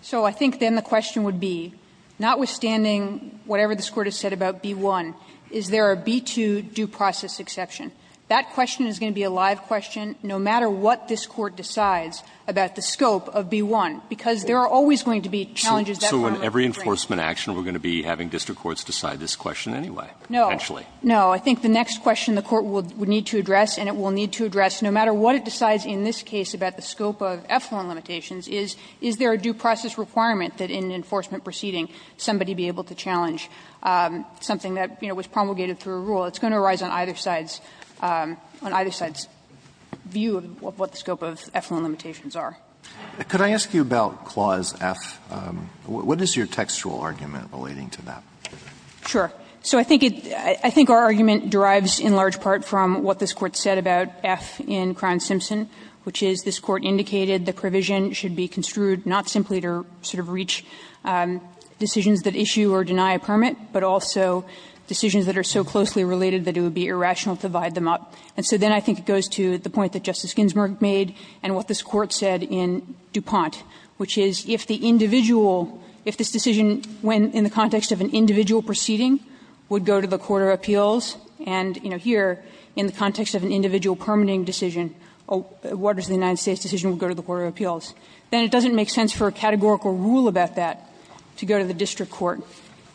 So I think then the question would be, notwithstanding whatever this Court has said about B-1, is there a B-2 due process exception? That question is going to be a live question no matter what this Court decides about the scope of B-1, because there are always going to be challenges that farmer brings. Roberts So in every enforcement action we're going to be having district courts decide this question anyway, potentially? No. No. I think the next question the court would need to address, and it will need to address no matter what it decides in this case about the scope of EFLON limitations, is, is there a due process requirement that in an enforcement proceeding somebody be able to challenge something that, you know, was promulgated through a rule? It's going to arise on either side's view of what the scope of EFLON limitations are. Alito Could I ask you about Clause F? What is your textual argument relating to that? Kovner Sure. So I think our argument derives in large part from what this Court said about F in Crown-Simpson, which is this Court indicated the provision should be construed not simply to sort of reach decisions that issue or deny a permit, but also decisions that are so closely related that it would be irrational to divide them up. And so then I think it goes to the point that Justice Ginsburg made and what this Court said in DuPont, which is if the individual, if this decision, when in the context of an individual proceeding, would go to the court of appeals, and, you know, here in the context of an individual permitting decision, what is the United States decision would go to the court of appeals, then it doesn't make sense for a categorical rule about that to go to the district court.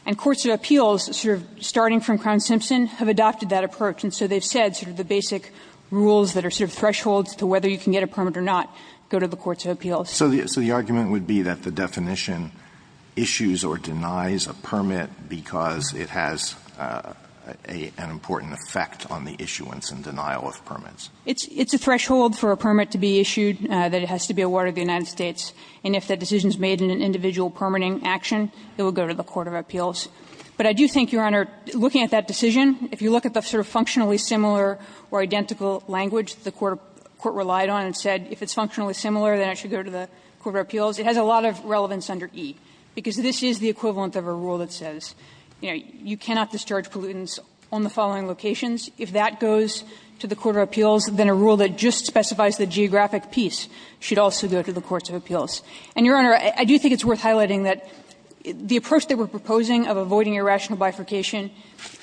And courts of appeals, sort of starting from Crown-Simpson, have adopted that approach. And so they've said sort of the basic rules that are sort of thresholds to whether you can get a permit or not go to the courts of appeals. Alito So the argument would be that the definition issues or denies a permit because it has an important effect on the issuance and denial of permits. Kovner It's a threshold for a permit to be issued, that it has to be awarded to the United But I do think, Your Honor, looking at that decision, if you look at the sort of functionally similar or identical language the court relied on and said if it's functionally similar, then it should go to the court of appeals, it has a lot of relevance under E, because this is the equivalent of a rule that says, you know, you cannot discharge pollutants on the following locations. If that goes to the court of appeals, then a rule that just specifies the geographic piece should also go to the courts of appeals. And, Your Honor, I do think it's worth highlighting that the approach that we're proposing of avoiding irrational bifurcation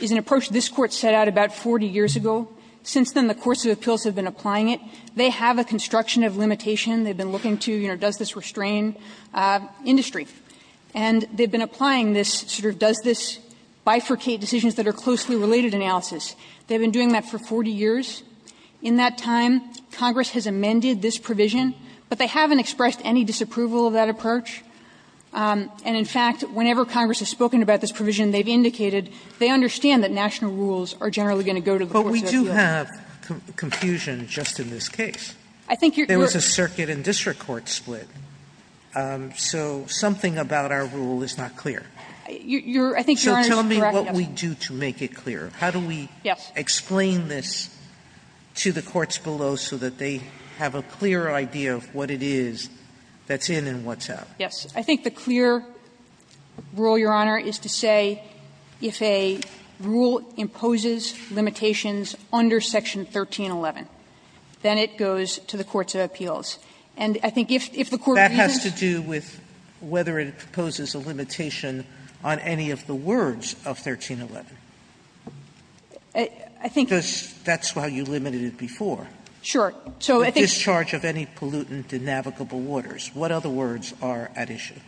is an approach this Court set out about 40 years ago. Since then, the courts of appeals have been applying it. They have a construction of limitation. They've been looking to, you know, does this restrain industry? And they've been applying this sort of does this bifurcate decisions that are closely related analysis. They've been doing that for 40 years. In that time, Congress has amended this provision, but they haven't expressed any disapproval of that approach. And, in fact, whenever Congress has spoken about this provision, they've indicated they understand that national rules are generally going to go to the courts of appeals. Sotomayor, but we do have confusion just in this case. There was a circuit and district court split, so something about our rule is not clear. So tell me what we do to make it clear. How do we explain this to the courts below so that they have a clearer idea of what it is that's in and what's out? Yes. I think the clear rule, Your Honor, is to say if a rule imposes limitations under section 1311, then it goes to the courts of appeals. And I think if the court agrees to this. That has to do with whether it imposes a limitation on any of the words of 1311. I think that's why you limited it before. Sure. So I think The discharge of any pollutant in navigable waters. What other words are at issue?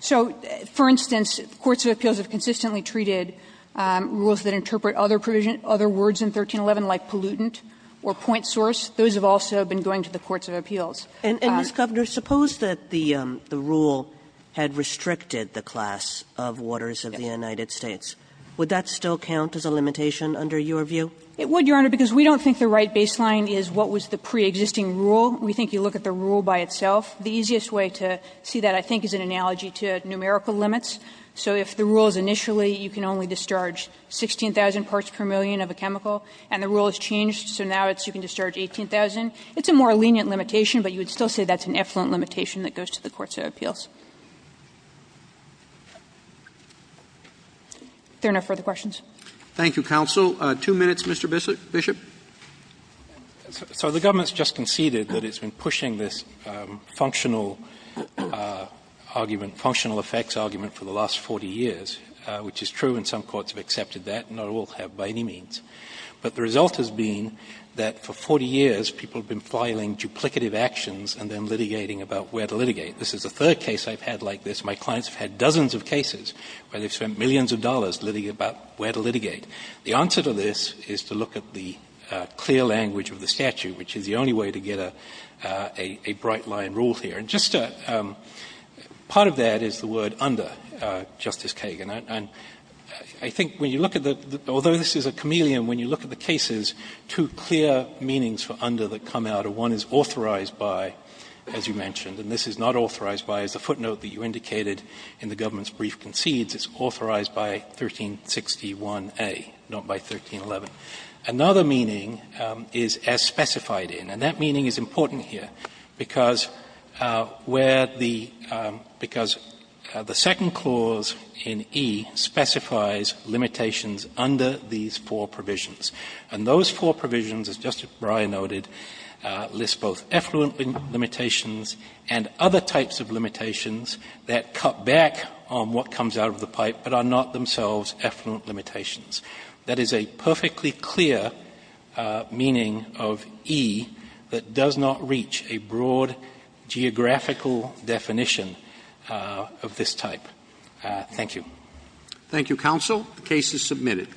So, for instance, courts of appeals have consistently treated rules that interpret other provision, other words in 1311 like pollutant or point source. Those have also been going to the courts of appeals. And, Ms. Governor, suppose that the rule had restricted the class of waters of the United States. Would that still count as a limitation under your view? It would, Your Honor, because we don't think the right baseline is what was the pre-existing rule. We think you look at the rule by itself. The easiest way to see that, I think, is an analogy to numerical limits. So if the rule is initially you can only discharge 16,000 parts per million of a chemical and the rule has changed, so now it's you can discharge 18,000, it's a more lenient limitation, but you would still say that's an effluent limitation that goes to the courts of appeals. If there are no further questions. Thank you, counsel. Two minutes, Mr. Bishop. So the government's just conceded that it's been pushing this functional argument, functional effects argument for the last 40 years, which is true and some courts have accepted that, not all have by any means. But the result has been that for 40 years people have been filing duplicative actions and then litigating about where to litigate. This is the third case I've had like this. My clients have had dozens of cases where they've spent millions of dollars litigating about where to litigate. The answer to this is to look at the clear language of the statute, which is the only way to get a bright-line rule here. And just a part of that is the word under, Justice Kagan. And I think when you look at the, although this is a chameleon, when you look at the cases, two clear meanings for under that come out are one is authorized by, as you mentioned, and this is not authorized by, as the footnote that you indicated in the government's brief concedes, it's authorized by 1361A, not by 1311. Another meaning is as specified in, and that meaning is important here, because where the – because the second clause in E specifies limitations under these four provisions, and those four provisions, as Justice Breyer noted, list both effluent limitations and other types of limitations that cut back on what comes out of the pipe, but are not themselves effluent limitations. That is a perfectly clear meaning of E that does not reach a broad geographical definition of this type. Thank you. Roberts. Thank you, counsel. The case is submitted.